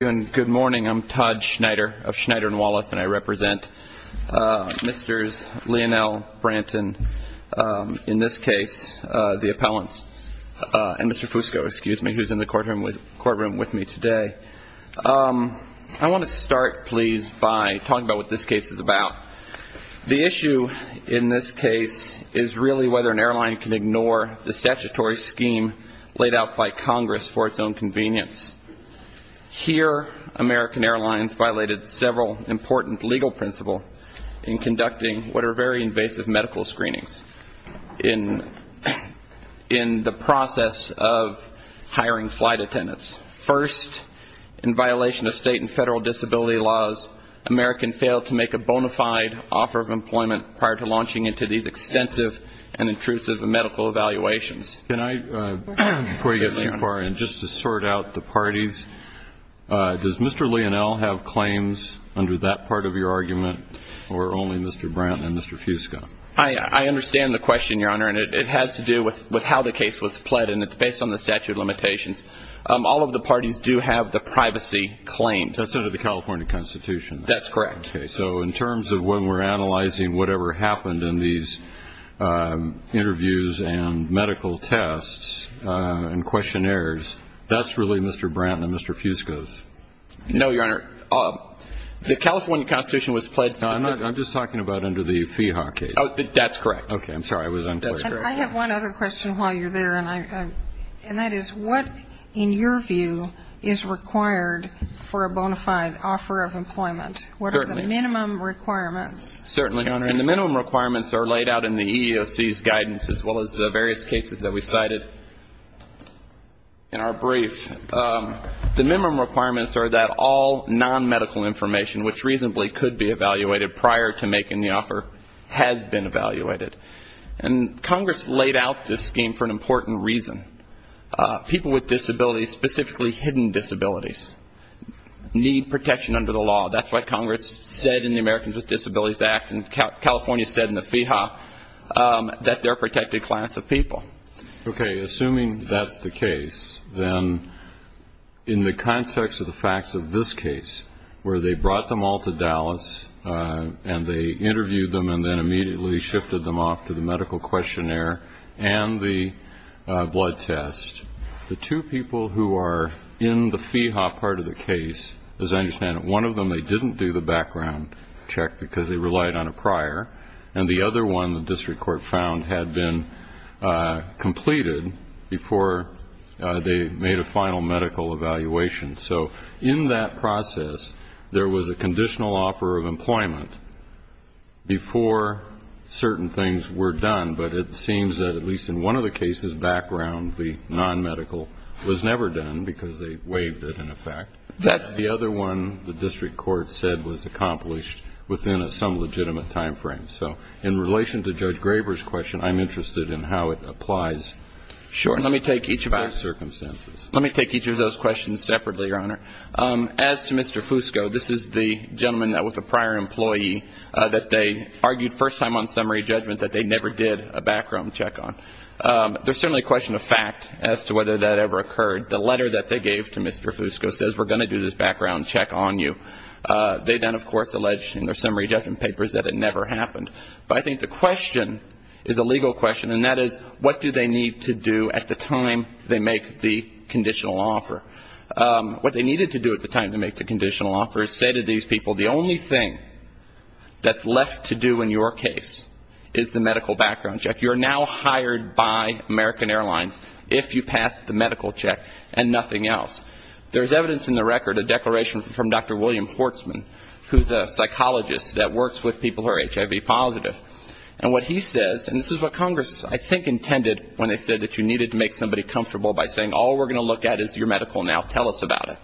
Good morning, I'm Todd Schneider of Schneider & Wallace, and I represent Mr. Leonel Branton, in this case, the appellants, and Mr. Fusco, excuse me, who's in the courtroom with me today. I want to start, please, by talking about what this case is about. The issue in this case is really whether an airline can ignore the statutory scheme laid out by Congress for its own convenience. Here, American Airlines violated several important legal principles in conducting what are very invasive medical screenings in the process of hiring flight attendants. First, in violation of state and federal disability laws, American failed to make a bona fide offer of employment prior to launching into these extensive and intrusive medical evaluations. Before you get too far in, just to sort out the parties, does Mr. Leonel have claims under that part of your argument, or only Mr. Branton and Mr. Fusco? I understand the question, Your Honor, and it has to do with how the case was pled, and it's based on the statute of limitations. All of the parties do have the privacy claim. That's under the California Constitution. That's correct. Okay, so in terms of when we're analyzing whatever happened in these interviews and medical tests and questionnaires, that's really Mr. Branton and Mr. Fusco's. No, Your Honor. The California Constitution was pled specifically. No, I'm just talking about under the FIHA case. That's correct. All nonmedical information, which reasonably could be evaluated prior to making the offer, has been evaluated. And Congress laid out this scheme for an important reason. People with disabilities, specifically hidden disabilities, need protection under the law. That's what Congress said in the Americans with Disabilities Act, and California said in the FIHA, that they're a protected class of people. Okay, assuming that's the case, then in the context of the facts of this case, where they brought them all to Dallas and they interviewed them and then immediately shifted them off to the medical questionnaire and the blood test, the two people who are in the FIHA part of the case, as I understand it, one of them, they didn't do the background check because they relied on a prior, and the other one the district court found had been completed before they made a final medical evaluation. So in that process, there was a conditional offer of employment before certain things were done, but it seems that at least in one of the cases, background, the nonmedical, was never done because they waived it, in effect. That's the other one the district court said was accomplished within some legitimate time frame. So in relation to Judge Graber's question, I'm interested in how it applies. Sure. And let me take each of those questions separately, Your Honor. As to Mr. Fusco, this is the gentleman that was a prior employee that they argued first time on summary judgment that they never did a background check on. There's certainly a question of fact as to whether that ever occurred. The letter that they gave to Mr. Fusco says we're going to do this background check on you. They then, of course, alleged in their summary judgment papers that it never happened. But I think the question is a legal question, and that is, what do they need to do at the time they make the conditional offer? What they needed to do at the time they make the conditional offer is say to these people, the only thing that's left to do in your case is the medical background check. You're now hired by American Airlines if you pass the medical check and nothing else. There's evidence in the record, a declaration from Dr. William Hortzman, who's a psychologist that works with people who are HIV positive. And what he says, and this is what Congress, I think, intended when they said that you needed to make somebody comfortable by saying all we're going to look at is your medical now, tell us about it.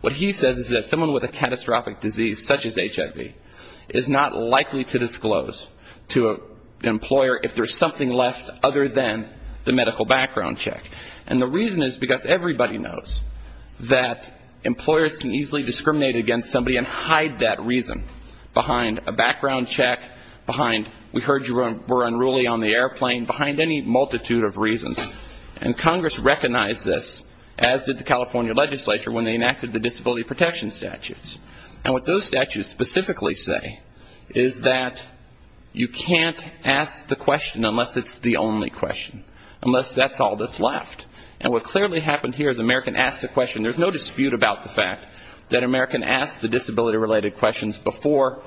What he says is that someone with a catastrophic disease such as HIV is not likely to disclose to an employer if there's something left other than the medical background check. And the reason is because everybody knows that employers can easily discriminate against somebody and hide that reason behind a background check, behind we heard you were unruly on the airplane, behind any multitude of reasons. And Congress recognized this, as did the California legislature when they enacted the disability protection statutes. And what those statutes specifically say is that you can't ask the question unless it's the only question, unless that's all that's left. And what clearly happened here is American asked the question. There's no dispute about the fact that American asked the disability-related questions before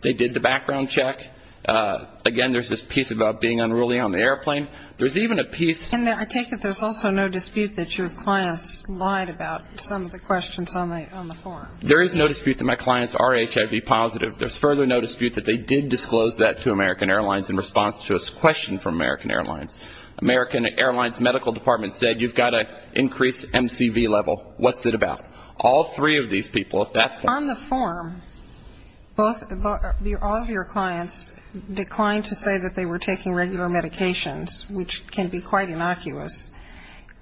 they did the background check. Again, there's this piece about being unruly on the airplane. There's even a piece... And I take it there's also no dispute that your clients lied about some of the questions on the forum. There is no dispute that my clients are HIV positive. There's further no dispute that they did disclose that to American Airlines in response to a question from American Airlines. American Airlines medical department said you've got to increase MCV level. What's it about? All three of these people at that point. On the forum, all of your clients declined to say that they were taking regular medications, which can be quite innocuous.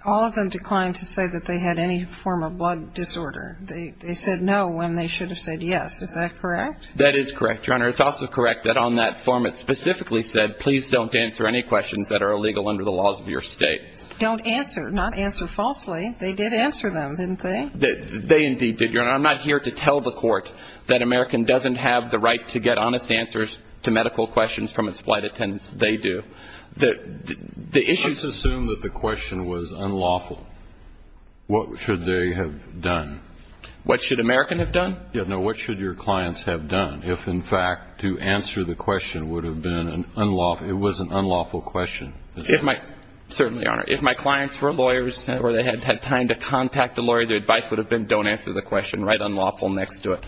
All of them declined to say that they had any form of blood disorder. They said no when they should have said yes. Is that correct? That is correct, Your Honor. It's also correct that on that forum it specifically said please don't answer any questions that are illegal under the laws of your state. Don't answer, not answer falsely. They did answer them, didn't they? They indeed did, Your Honor. I'm not here to tell the court that American doesn't have the right to get honest answers to medical questions from its flight attendants. They do. Let's assume that the question was unlawful. What should they have done? What should American have done? No, what should your clients have done if in fact to answer the question would have been an unlawful, it was an unlawful question? Certainly, Your Honor. If my clients were lawyers or they had had time to contact the lawyer, the advice would have been don't answer the question, write unlawful next to it.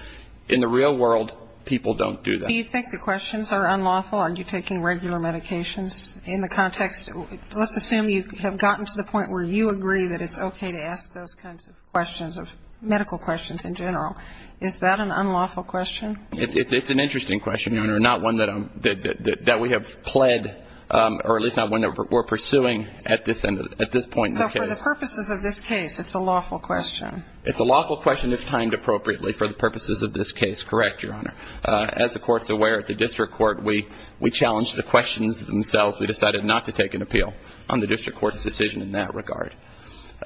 In the real world, people don't do that. Do you think the questions are unlawful? Are you taking regular medications? In the context, let's assume you have gotten to the point where you agree that it's okay to ask those kinds of questions, medical questions in general. Is that an unlawful question? It's an interesting question, Your Honor. Not one that we have pled or at least not one that we're pursuing at this point in the case. No, for the purposes of this case, it's a lawful question. It's a lawful question that's timed appropriately for the purposes of this case. Correct, Your Honor. As the Court's aware, at the District Court, we challenge the questions themselves. We decided not to take an appeal on the District Court's decision in that regard.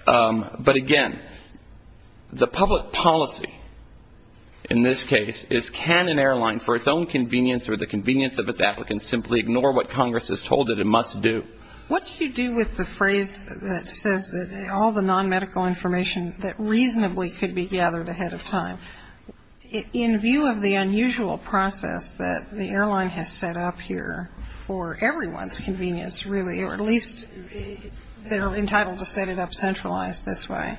But, again, the public policy in this case is can an airline, for its own convenience or the convenience of its applicants, simply ignore what Congress has told it it must do? What do you do with the phrase that says all the nonmedical information that reasonably could be gathered ahead of time? In view of the unusual process that the airline has set up here for everyone's convenience, really, or at least they're entitled to set it up centralized this way.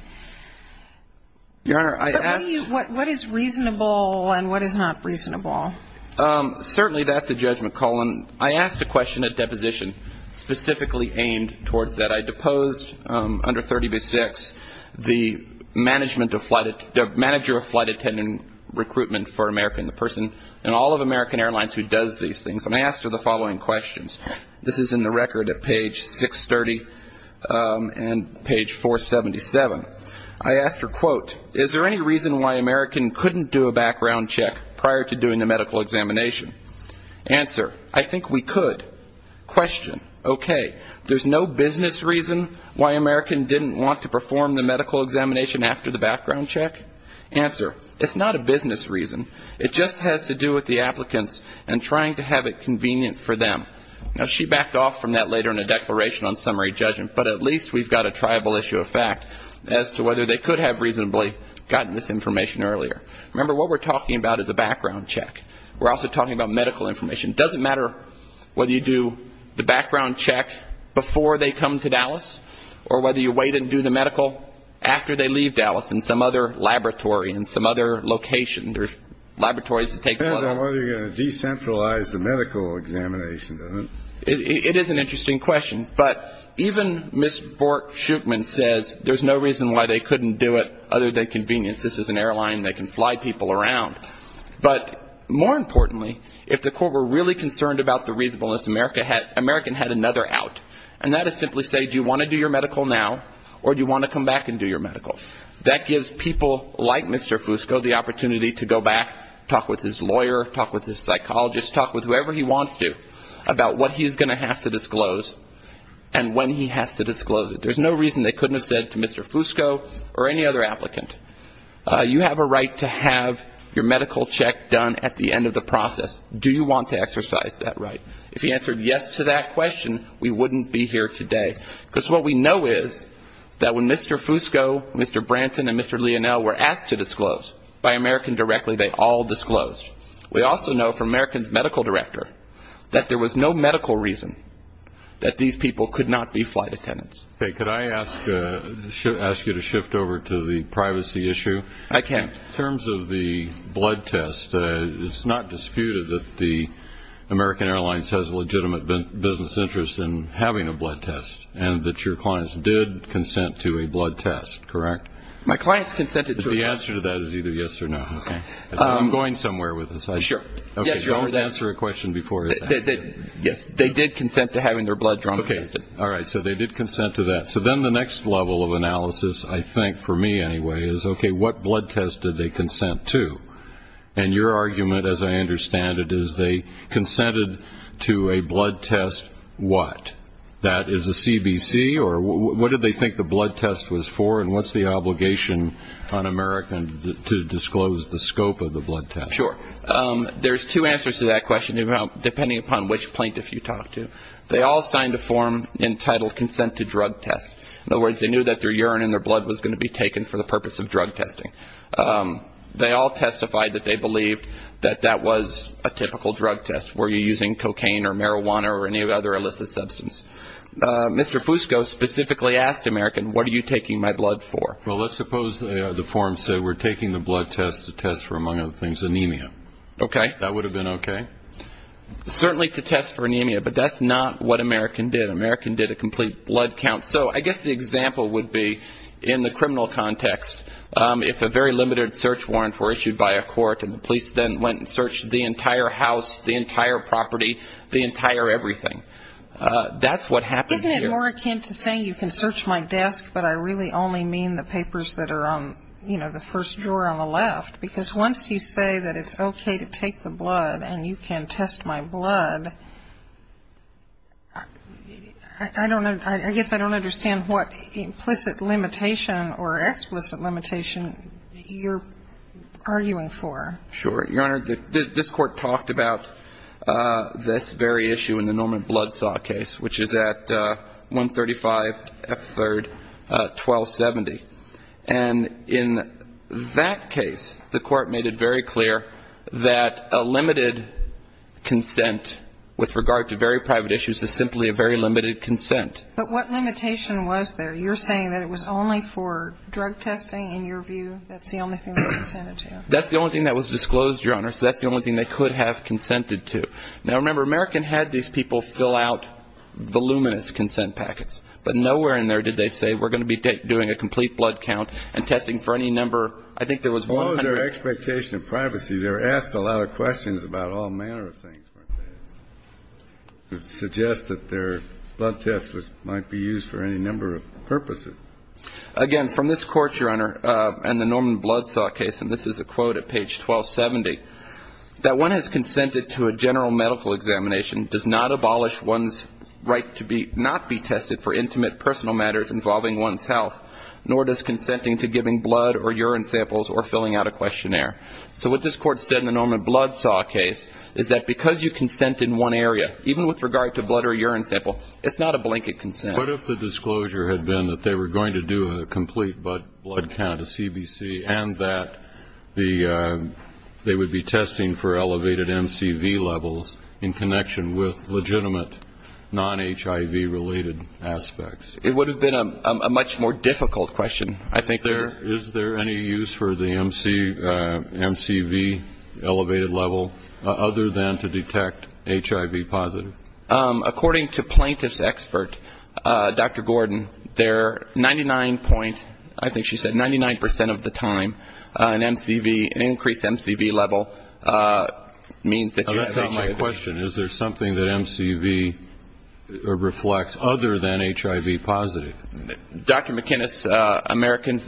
Your Honor, I ask... But what is reasonable and what is not reasonable? Certainly, that's a judgment call. And I asked a question at deposition specifically aimed towards that. I deposed under 30-6 the manager of flight attendant recruitment for America and the person in all of American Airlines who does these things. And I asked her the following questions. This is in the record at page 630 and page 477. I asked her, quote, is there any reason why American couldn't do a background check prior to doing the medical examination? Answer, I think we could. Question, okay, there's no business reason why American didn't want to perform the medical examination after the background check? Answer, it's not a business reason. It just has to do with the applicants and trying to have it convenient for them. Now, she backed off from that later in a declaration on summary judgment, but at least we've got a triable issue of fact as to whether they could have reasonably gotten this information earlier. Remember, what we're talking about is a background check. We're also talking about medical information. It doesn't matter whether you do the background check before they come to Dallas or whether you wait and do the medical after they leave Dallas in some other laboratory in some other location. It doesn't matter whether you're going to decentralize the medical examination, does it? It is an interesting question. But even Ms. Bork-Schuchman says there's no reason why they couldn't do it other than convenience. This is an airline. They can fly people around. But more importantly, if the court were really concerned about the reasonableness, American had another out. And that is simply say, do you want to do your medical now or do you want to come back and do your medical? That gives people like Mr. Fusco the opportunity to go back, talk with his lawyer, talk with his psychologist, talk with whoever he wants to about what he's going to have to disclose and when he has to disclose it. There's no reason they couldn't have said to Mr. Fusco or any other applicant, you have a right to have your medical check done at the end of the process. Do you want to exercise that right? If he answered yes to that question, we wouldn't be here today. Because what we know is that when Mr. Fusco, Mr. Branton and Mr. Lionel were asked to disclose by American directly, they all disclosed. We also know from American's medical director that there was no medical reason that these people could not be flight attendants. Okay. Could I ask you to shift over to the privacy issue? I can. In terms of the blood test, it's not disputed that the American Airlines has a legitimate business interest in having a blood test. And that your clients did consent to a blood test, correct? My clients consented to a blood test. The answer to that is either yes or no. I'm going somewhere with this. Don't answer a question before it's answered. Yes, they did consent to having their blood drawn. Okay. All right. So they did consent to that. So then the next level of analysis, I think, for me anyway, is, okay, what blood test did they consent to? And your argument, as I understand it, is they consented to a blood test what? That is a CBC? Or what did they think the blood test was for? And what's the obligation on American to disclose the scope of the blood test? Sure. There's two answers to that question, depending upon which plaintiff you talk to. They all signed a form entitled consent to drug test. In other words, they knew that their urine and their blood was going to be taken for the purpose of drug testing. They all testified that they believed that that was a typical drug test. Were you using cocaine or marijuana or any other illicit substance? Mr. Fusco specifically asked American, what are you taking my blood for? Well, let's suppose the form said we're taking the blood test to test for, among other things, anemia. Okay. That would have been okay? Certainly to test for anemia, but that's not what American did. American did a complete blood count. So I guess the example would be, in the criminal context, if a very limited search warrant were issued by a court, and the police then went and searched the entire house, the entire property, the entire everything. That's what happened here. Isn't it more akin to saying you can search my desk, but I really only mean the papers that are on, you know, the first drawer on the left? Because once you say that it's okay to take the blood and you can test my blood, I don't know, I guess I don't understand what implicit limitation or explicit limitation you're arguing for. Sure. Your Honor, this Court talked about this very issue in the Norman Blood Saw case, which is at 135 F. 3rd, 1270. And in that case, the Court made it very clear that a limited consent with regard to very private issues is simply a very limited consent. But what limitation was there? You're saying that it was only for drug testing, in your view? That's the only thing they consented to? That's the only thing that was disclosed, Your Honor. So that's the only thing they could have consented to. Now, remember, American had these people fill out voluminous consent packets. But nowhere in there did they say we're going to be doing a complete blood count and testing for any number. I think there was one hundred. As long as their expectation of privacy, they were asked a lot of questions about all manner of things. It suggests that their blood tests might be used for any number of purposes. Again, from this Court, Your Honor, and the Norman Blood Saw case, and this is a quote at page 1270, that one has consented to a general medical examination does not abolish one's right to not be tested for intimate personal matters involving one's health, nor does consenting to giving blood or urine samples or filling out a questionnaire. So what this Court said in the Norman Blood Saw case is that because you consent in one area, even with regard to blood or urine sample, it's not a blanket consent. What if the disclosure had been that they were going to do a complete blood count at CBC and that they would be testing for elevated MCV levels, in connection with legitimate non-HIV related aspects? It would have been a much more difficult question, I think. Is there any use for the MCV elevated level, other than to detect HIV positive? According to plaintiff's expert, Dr. Gordon, they're 99 point, I think she said 99 percent of the time, an increased MCV level means that that's not my question, is there something that MCV reflects other than HIV positive? Dr. McInnes, American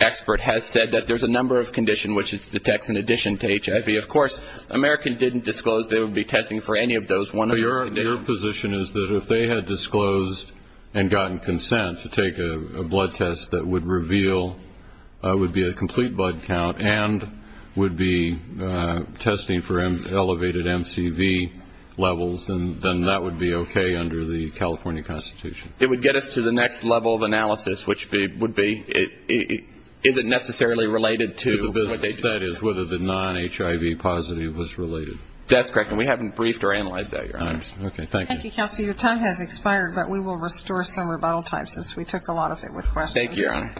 expert, has said that there's a number of conditions which it detects in addition to HIV. Of course, American didn't disclose they would be testing for any of those. Your position is that if they had disclosed and gotten consent to take a blood test that would reveal, would be a complete blood count, and would be testing for elevated MCV levels, then that would be okay under the California Constitution? It would get us to the next level of analysis, which would be, is it necessarily related to what they do? That is, whether the non-HIV positive was related. That's correct. And we haven't briefed or analyzed that, Your Honor. Okay. Thank you. Thank you, counsel. Your time has expired, but we will restore some rebuttal time, since we took a lot of it with questions. Thank you, Your Honor.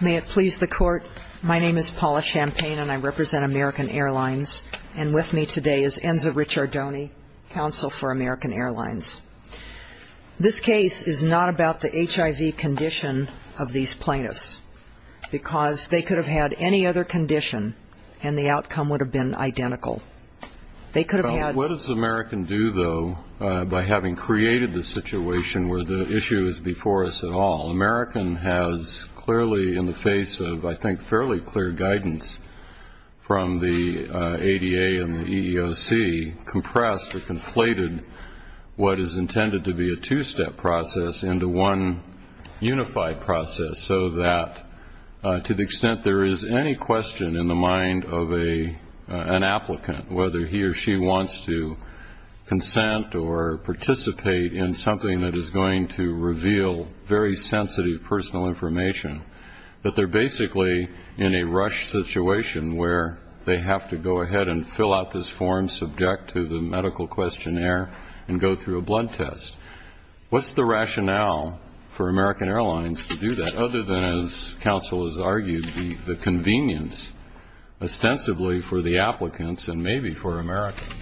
May it please the Court, my name is Paula Champagne, and I represent American Airlines, and with me today is Enza Ricciardoni, counsel for American Airlines. This case is not about the HIV condition of these plaintiffs, because they could have had any other condition, and the outcome would have been identical. They could have had --. What does American do, though, by having created the situation where the issue is before us at all? American has clearly, in the face of, I think, fairly clear guidance from the ADA and the EEOC, compressed or conflated what is intended to be a two-step process into one unified process, so that to the extent there is any question in the mind of an applicant, whether he or she wants to consent or participate in something that is going to reveal very sensitive personal information, that they're basically in a rushed situation where they have to go ahead and fill out this form subject to the medical questionnaire and go through a blood test. What's the rationale for American Airlines to do that, other than, as counsel has argued, the convenience ostensibly for the applicants and maybe for Americans?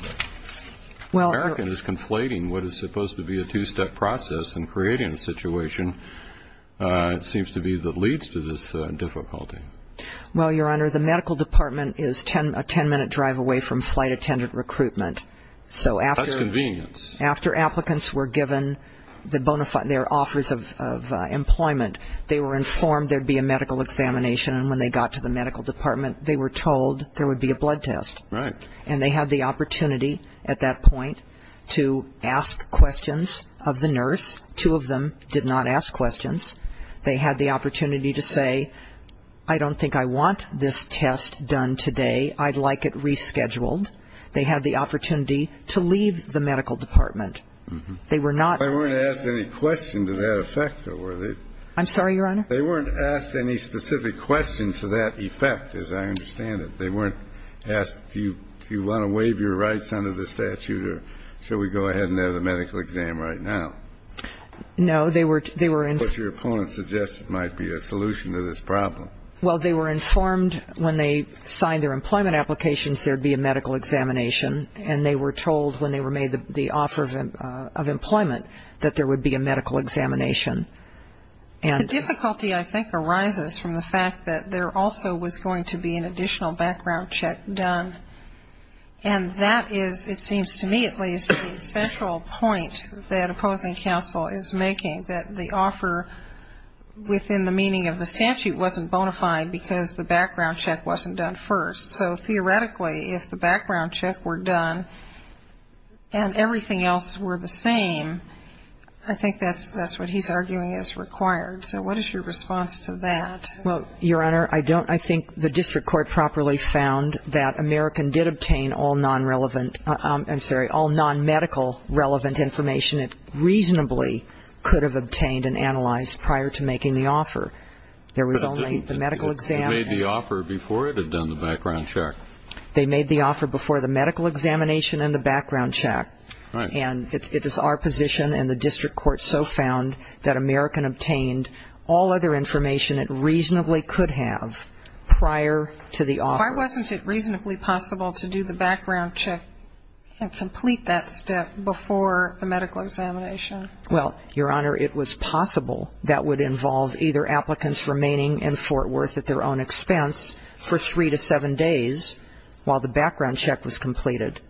American is conflating what is supposed to be a two-step process and creating a situation, it seems to be, that leads to this difficulty. Well, Your Honor, the medical department is a ten-minute drive away from flight attendant recruitment. So after applicants were given their offers of employment, they were informed there would be a medical examination, and when they got to the medical department, they were told there would be a blood test. And they had the opportunity at that point to ask questions of the nurse. Two of them did not ask questions. They had the opportunity to say, I don't think I want this test done today. I'd like it rescheduled. They had the opportunity to leave the medical department. They were not ---- They weren't asked any question to that effect, though, were they? I'm sorry, Your Honor? They weren't asked any specific question to that effect, as I understand it. They weren't asked, do you want to waive your rights under the statute or should we go ahead and have the medical exam right now? No, they were ---- What your opponent suggested might be a solution to this problem. Well, they were informed when they signed their employment applications there would be a medical examination, and they were told when they were made the offer of employment that there would be a medical examination. And ---- The difficulty, I think, arises from the fact that there also was going to be an additional background check done, and that is, it seems to me at least, the central point that opposing counsel is making, that the offer within the meaning of the statute wasn't bona fide because the background check wasn't done first. So theoretically, if the background check were done and everything else were the same, I think that's what he's arguing is required. So what is your response to that? Well, Your Honor, I don't ---- I think the district court properly found that American did obtain all non-relevant ---- I'm sorry, all non-medical relevant information it reasonably could have obtained and analyzed prior to making the offer. There was only the medical exam. It made the offer before it had done the background check. They made the offer before the medical examination and the background check. Right. And it is our position, and the district court so found, that American obtained all other information it reasonably could have prior to the offer. Why wasn't it reasonably possible to do the background check and complete that step before the medical examination? Well, Your Honor, it was possible that would involve either applicants remaining in Fort Worth at their own expense for three to seven days while the background check was completed,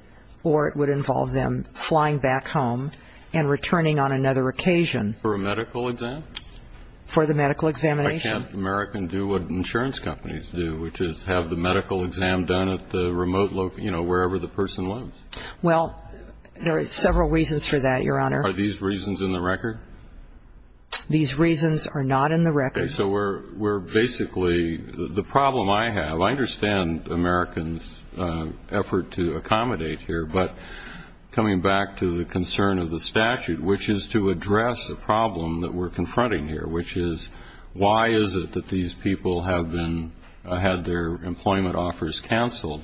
or it would involve them flying back home and returning on another occasion. For a medical exam? For the medical examination. Why can't American do what insurance companies do, which is have the medical exam done at the remote location, you know, wherever the person lives? Well, there are several reasons for that, Your Honor. Are these reasons in the record? These reasons are not in the record. Okay. So we're basically, the problem I have, I understand American's effort to accommodate here, but coming back to the concern of the statute, which is to address the problem that we're confronting here, which is why is it that these people have had their employment offers canceled?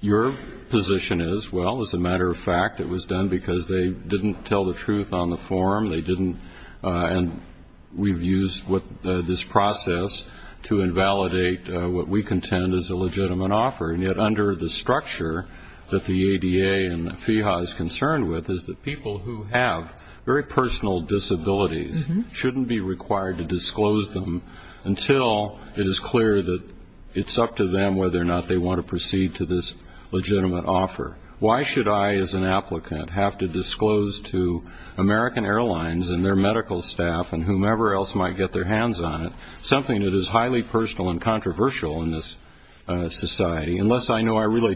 Your position is, well, as a matter of fact, it was done because they didn't tell the truth on the form, and we've used this process to invalidate what we contend is a legitimate offer, and yet under the structure that the ADA and the FEHA is concerned with is that people who have very personal disabilities shouldn't be required to disclose them until it is clear that it's up to them whether or not they want to proceed to this legitimate offer. Why should I as an applicant have to disclose to American Airlines and their medical staff and whomever else might get their hands on it something that is highly personal and controversial in this society, unless I know I really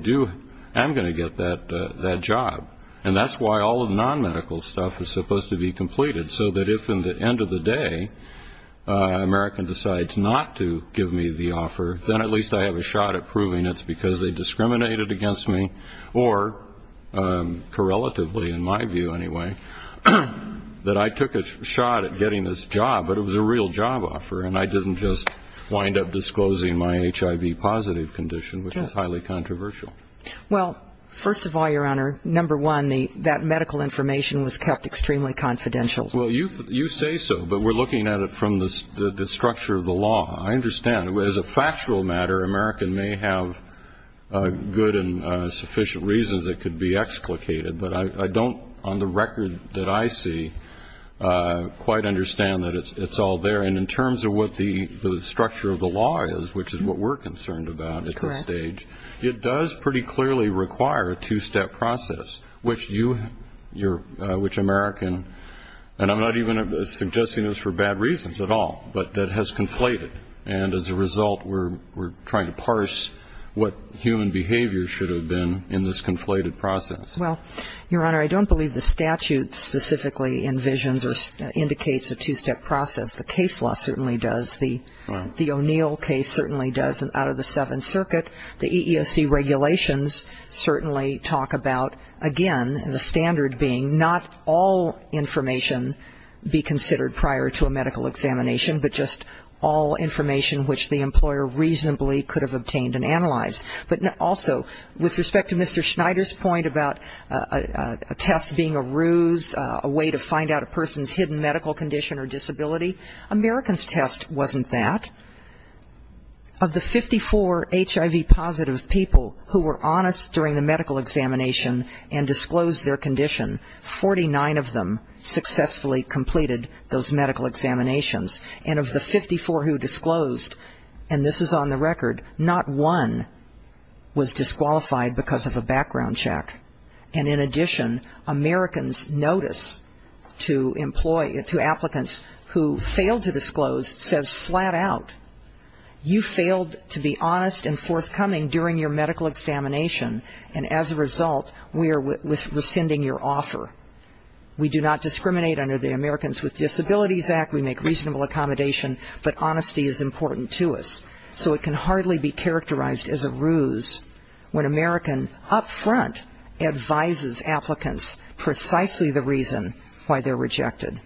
am going to get that job? And that's why all of the non-medical stuff is supposed to be completed, so that if at the end of the day American decides not to give me the offer, then at least I have a shot at proving it's because they discriminated against me or correlatively, in my view anyway, that I took a shot at getting this job, but it was a real job offer and I didn't just wind up disclosing my HIV-positive condition, which is highly controversial. Well, first of all, Your Honor, number one, that medical information was kept extremely confidential. Well, you say so, but we're looking at it from the structure of the law. I understand. As a factual matter, American may have good and sufficient reasons it could be explicated, but I don't, on the record that I see, quite understand that it's all there. And in terms of what the structure of the law is, which is what we're concerned about at this stage, it does pretty clearly require a two-step process, which American, and I'm not even suggesting this for bad reasons at all, but that has conflated. And as a result, we're trying to parse what human behavior should have been in this conflated process. Well, Your Honor, I don't believe the statute specifically envisions or indicates a two-step process. The case law certainly does. The O'Neill case certainly does. Out of the Seventh Circuit, the EEOC regulations certainly talk about, again, the standard being not all information be considered prior to a medical examination, but just all information which the employer reasonably could have obtained and analyzed. But also, with respect to Mr. Schneider's point about a test being a ruse, a way to find out a person's hidden medical condition or disability, American's test wasn't that. Of the 54 HIV-positive people who were honest during the medical examination and disclosed their condition, 49 of them successfully completed those medical examinations. And of the 54 who disclosed, and this is on the record, not one was disqualified because of a background check. And in addition, American's notice to applicants who failed to disclose says flat out, you failed to be honest and forthcoming during your medical examination, and as a result, we are rescinding your offer. We do not discriminate under the Americans with Disabilities Act. We make reasonable accommodation, but honesty is important to us. So it can hardly be characterized as a ruse when American up front advises applicants precisely the reason why they're rejected.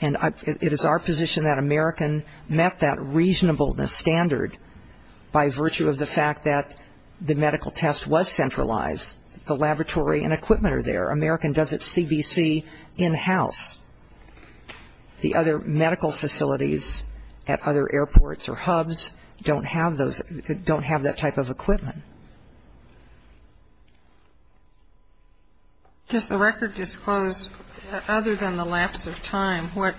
And it is our position that American met that reasonableness standard by virtue of the fact that the medical test was centralized. The laboratory and equipment are there. American does its CBC in-house. The other medical facilities at other airports or hubs don't have those, don't have that type of equipment. Just the record disclosed, other than the lapse of time, what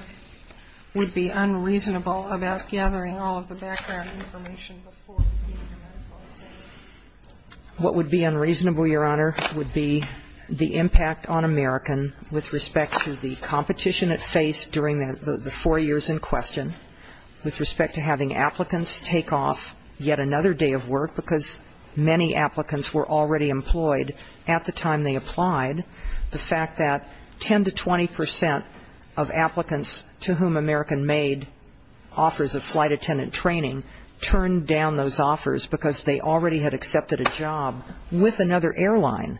would be unreasonable about gathering all of the background information before completing a medical examination? What would be unreasonable, Your Honor, would be the impact on American with respect to the competition it faced during the four years in question, with respect to having applicants take off yet another day of work, because many applicants were already employed at the time they applied. The fact that 10 to 20 percent of applicants to whom American made offers of flight attendant training turned down those offers because they already had accepted a job with another airline,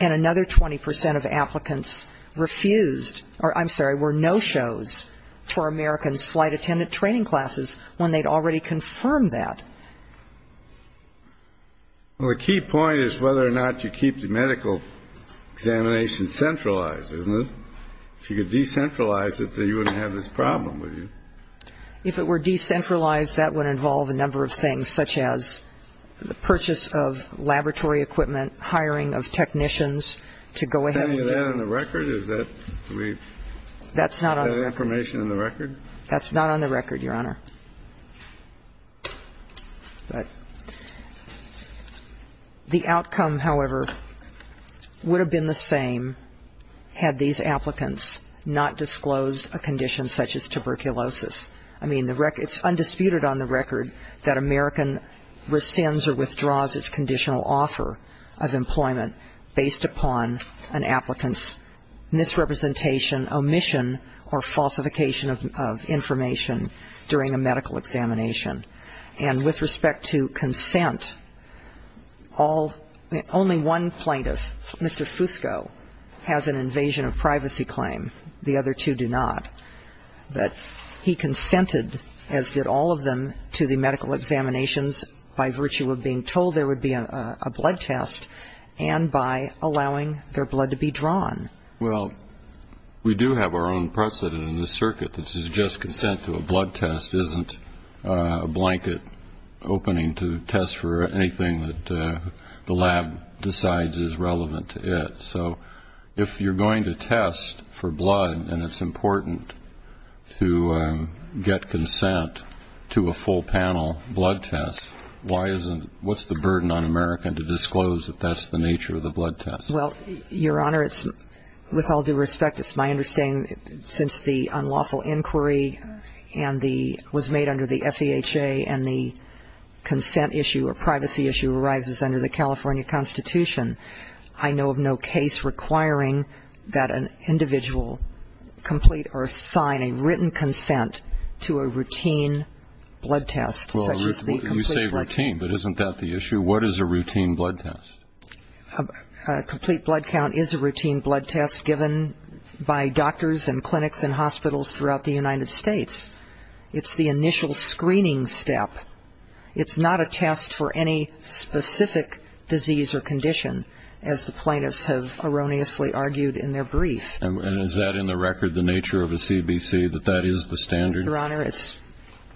and another 20 percent of applicants refused, or I'm sorry, there were no shows for American's flight attendant training classes when they'd already confirmed that. Well, the key point is whether or not you keep the medical examination centralized, isn't it? If you could decentralize it, then you wouldn't have this problem, would you? If it were decentralized, that would involve a number of things, such as the purchase of laboratory equipment, hiring of technicians to go ahead and do it. Is that on the record? Is that information in the record? That's not on the record, Your Honor. But the outcome, however, would have been the same had these applicants not disclosed a condition such as tuberculosis. I mean, it's undisputed on the record that American rescinds or withdraws its conditional offer of employment based upon an applicant's misrepresentation, omission, or falsification of information during a medical examination. And with respect to consent, only one plaintiff, Mr. Fusco, has an invasion of privacy claim. The other two do not. But he consented, as did all of them, to the medical examinations by virtue of being told there would be a blood test, and by allowing their blood to be drawn. Well, we do have our own precedent in this circuit that suggests consent to a blood test isn't a blanket opening to test for anything that the lab decides is relevant to it. So if you're going to test for blood and it's important to get consent to a full panel blood test, what's the burden on American to disclose that that's the nature of the blood test? Well, Your Honor, with all due respect, it's my understanding since the unlawful inquiry was made under the FEHA and the consent issue or privacy issue arises under the California Constitution, I know of no case requiring that an individual complete or assign a written consent to a routine blood test. Well, you say routine, but isn't that the issue? What is a routine blood test? A complete blood count is a routine blood test given by doctors and clinics and hospitals throughout the United States. It's the initial screening step. It's not a test for any specific disease or condition, as the plaintiffs have erroneously argued in their brief. And is that in the record the nature of a CBC, that that is the standard? Your Honor,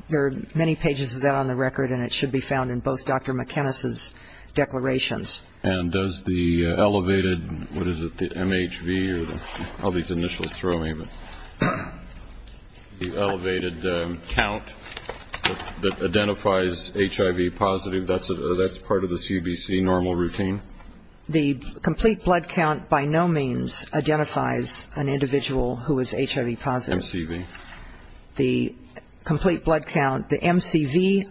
there are many pages of that on the record, and it should be found in both Dr. McInnes's declarations. And does the elevated, what is it, the MHV or all these initials throw me, but the elevated count that identifies HIV positive, that's part of the CBC normal routine? The complete blood count by no means identifies an individual who is HIV positive. What about the MCV? The complete blood count, the MCV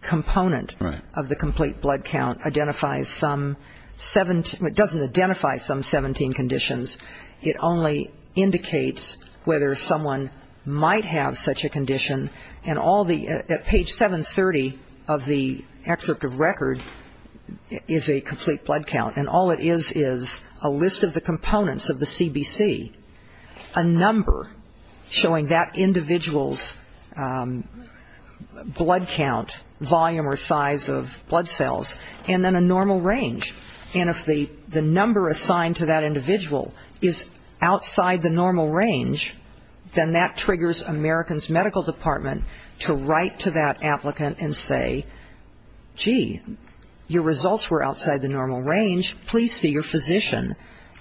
component of the complete blood count identifies some 17, it doesn't identify some 17 conditions. It only indicates whether someone might have such a condition. And all the, at page 730 of the excerpt of record is a complete blood count, and all it is is a list of the components of the CBC, a number showing that individual's blood count, volume or size of blood cells, and then a normal range. And if the number assigned to that individual is outside the normal range, then that triggers American's medical department to write to that applicant and say, gee, your results were outside the normal range, please see your physician,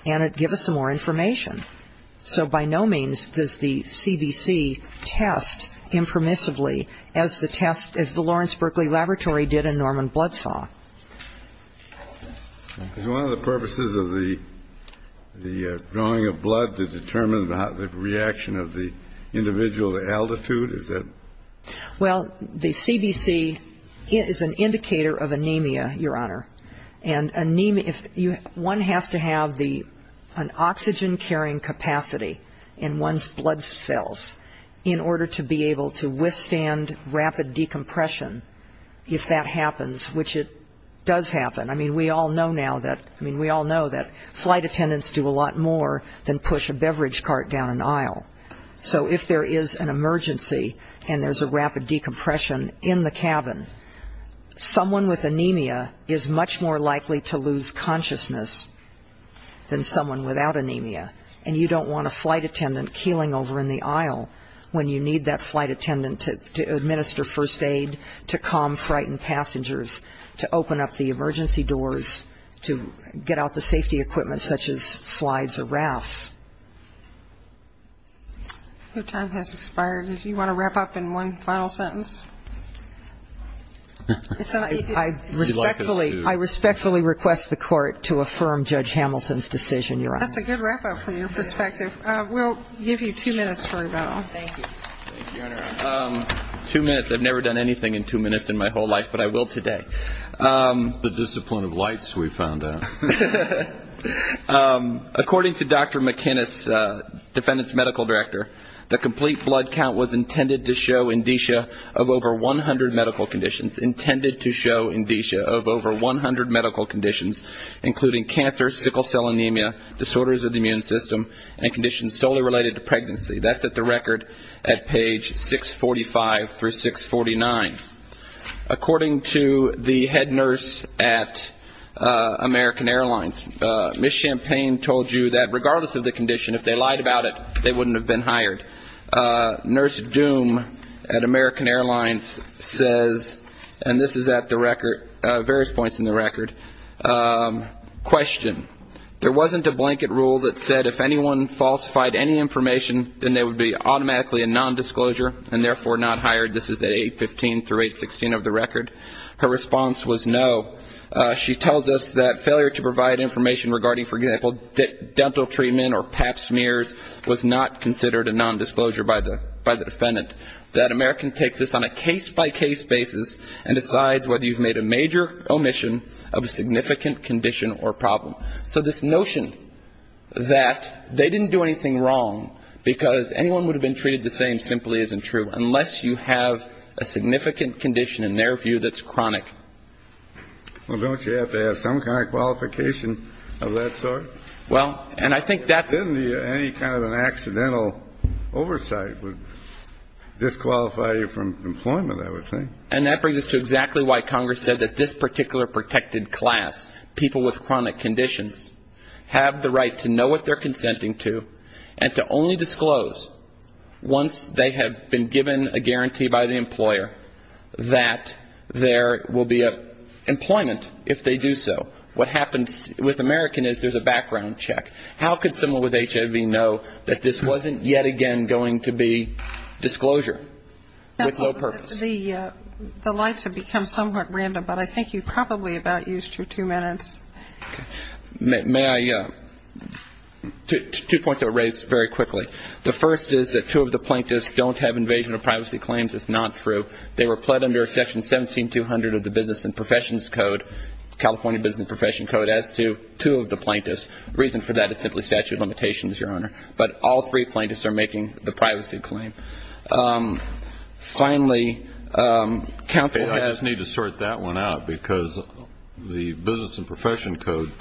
and give us some more information. So by no means does the CBC test impermissibly as the test, as the Lawrence Berkeley Laboratory did in Norman Blood Saw. Is one of the purposes of the drawing of blood to determine the reaction of the individual to altitude? Well, the CBC is an indicator of anemia, Your Honor, and one has to have an oxygen-carrying capacity in one's blood cells in order to be able to withstand rapid decompression. If that happens, which it does happen, I mean, we all know now that, I mean, we all know that flight attendants do a lot more than push a beverage cart down an aisle. So if there is an emergency and there's a rapid decompression in the cabin, someone with anemia is much more likely to lose consciousness than someone without anemia. And you don't want a flight attendant keeling over in the aisle when you need that flight attendant to administer first aid, to calm frightened passengers, to open up the emergency doors, to get out the safety equipment such as slides or rafts. Your time has expired. Do you want to wrap up in one final sentence? I respectfully request the Court to affirm Judge Hamilton's decision, Your Honor. That's a good wrap-up from your perspective. We'll give you two minutes for a vote. Thank you. Thank you, Your Honor. Two minutes. I've never done anything in two minutes in my whole life, but I will today. The discipline of lights we found out. According to Dr. McInnis, defendant's medical director, the complete blood count was intended to show indicia of over 100 medical conditions, intended to show indicia of over 100 medical conditions, including cancer, sickle cell anemia, disorders of the immune system, and conditions solely related to pregnancy. That's at the record at page 645 through 649. According to the head nurse at American Airlines, Ms. Champagne told you that regardless of the condition, if they lied about it, they wouldn't have been hired. Nurse Doom at American Airlines says, and this is at the record, various points in the record, question, there wasn't a blanket rule that said if anyone falsified any information, then there would be automatically a nondisclosure and therefore not hired. This is at 815 through 816 of the record. Her response was no. She tells us that failure to provide information regarding, for example, dental treatment or pap smears was not considered a nondisclosure by the defendant. That American takes this on a case-by-case basis and decides whether you've made a major omission of a significant condition or problem. So this notion that they didn't do anything wrong because anyone would have been treated the same simply isn't true unless you have a significant condition, in their view, that's chronic. Well, don't you have to have some kind of qualification of that sort? Well, and I think that's. Any kind of an accidental oversight would disqualify you from employment, I would think. And that brings us to exactly why Congress said that this particular protected class, people with chronic conditions, have the right to know what they're consenting to and to only disclose once they have been given a guarantee by the employer that there will be employment if they do so. What happens with American is there's a background check. How could someone with HIV know that this wasn't yet again going to be disclosure with no purpose? The lights have become somewhat random, but I think you're probably about used for two minutes. May I? Two points that were raised very quickly. The first is that two of the plaintiffs don't have invasion of privacy claims. It's not true. They were pled under Section 17200 of the Business and Professions Code, California Business and Profession Code, as to two of the plaintiffs. The reason for that is simply statute of limitations, Your Honor. But all three plaintiffs are making the privacy claim. Finally, counsel has. I just need to sort that one out because the Business and Profession Code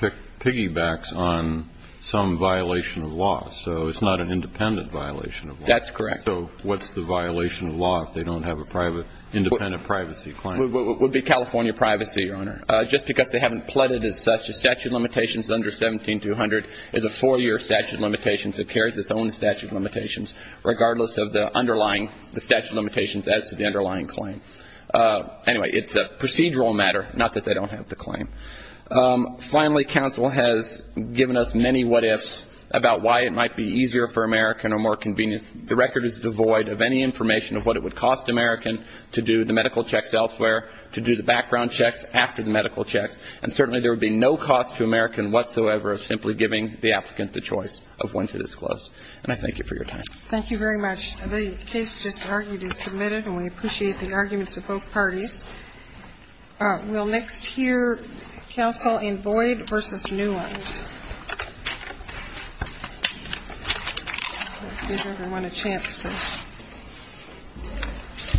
piggybacks on some violation of law, so it's not an independent violation of law. That's correct. So what's the violation of law if they don't have an independent privacy claim? It would be California privacy, Your Honor, just because they haven't pled it as such. The statute of limitations under 17200 is a four-year statute of limitations. It carries its own statute of limitations regardless of the underlying statute of limitations as to the underlying claim. Anyway, it's a procedural matter, not that they don't have the claim. Finally, counsel has given us many what-ifs about why it might be easier for American or more convenient. The record is devoid of any information of what it would cost American to do the medical checks elsewhere, to do the background checks after the medical checks. And certainly there would be no cost to American whatsoever of simply giving the applicant the choice of when to disclose. And I thank you for your time. Thank you very much. The case just argued is submitted, and we appreciate the arguments of both parties. We'll next hear counsel in Boyd v. Newland. Give everyone a chance to.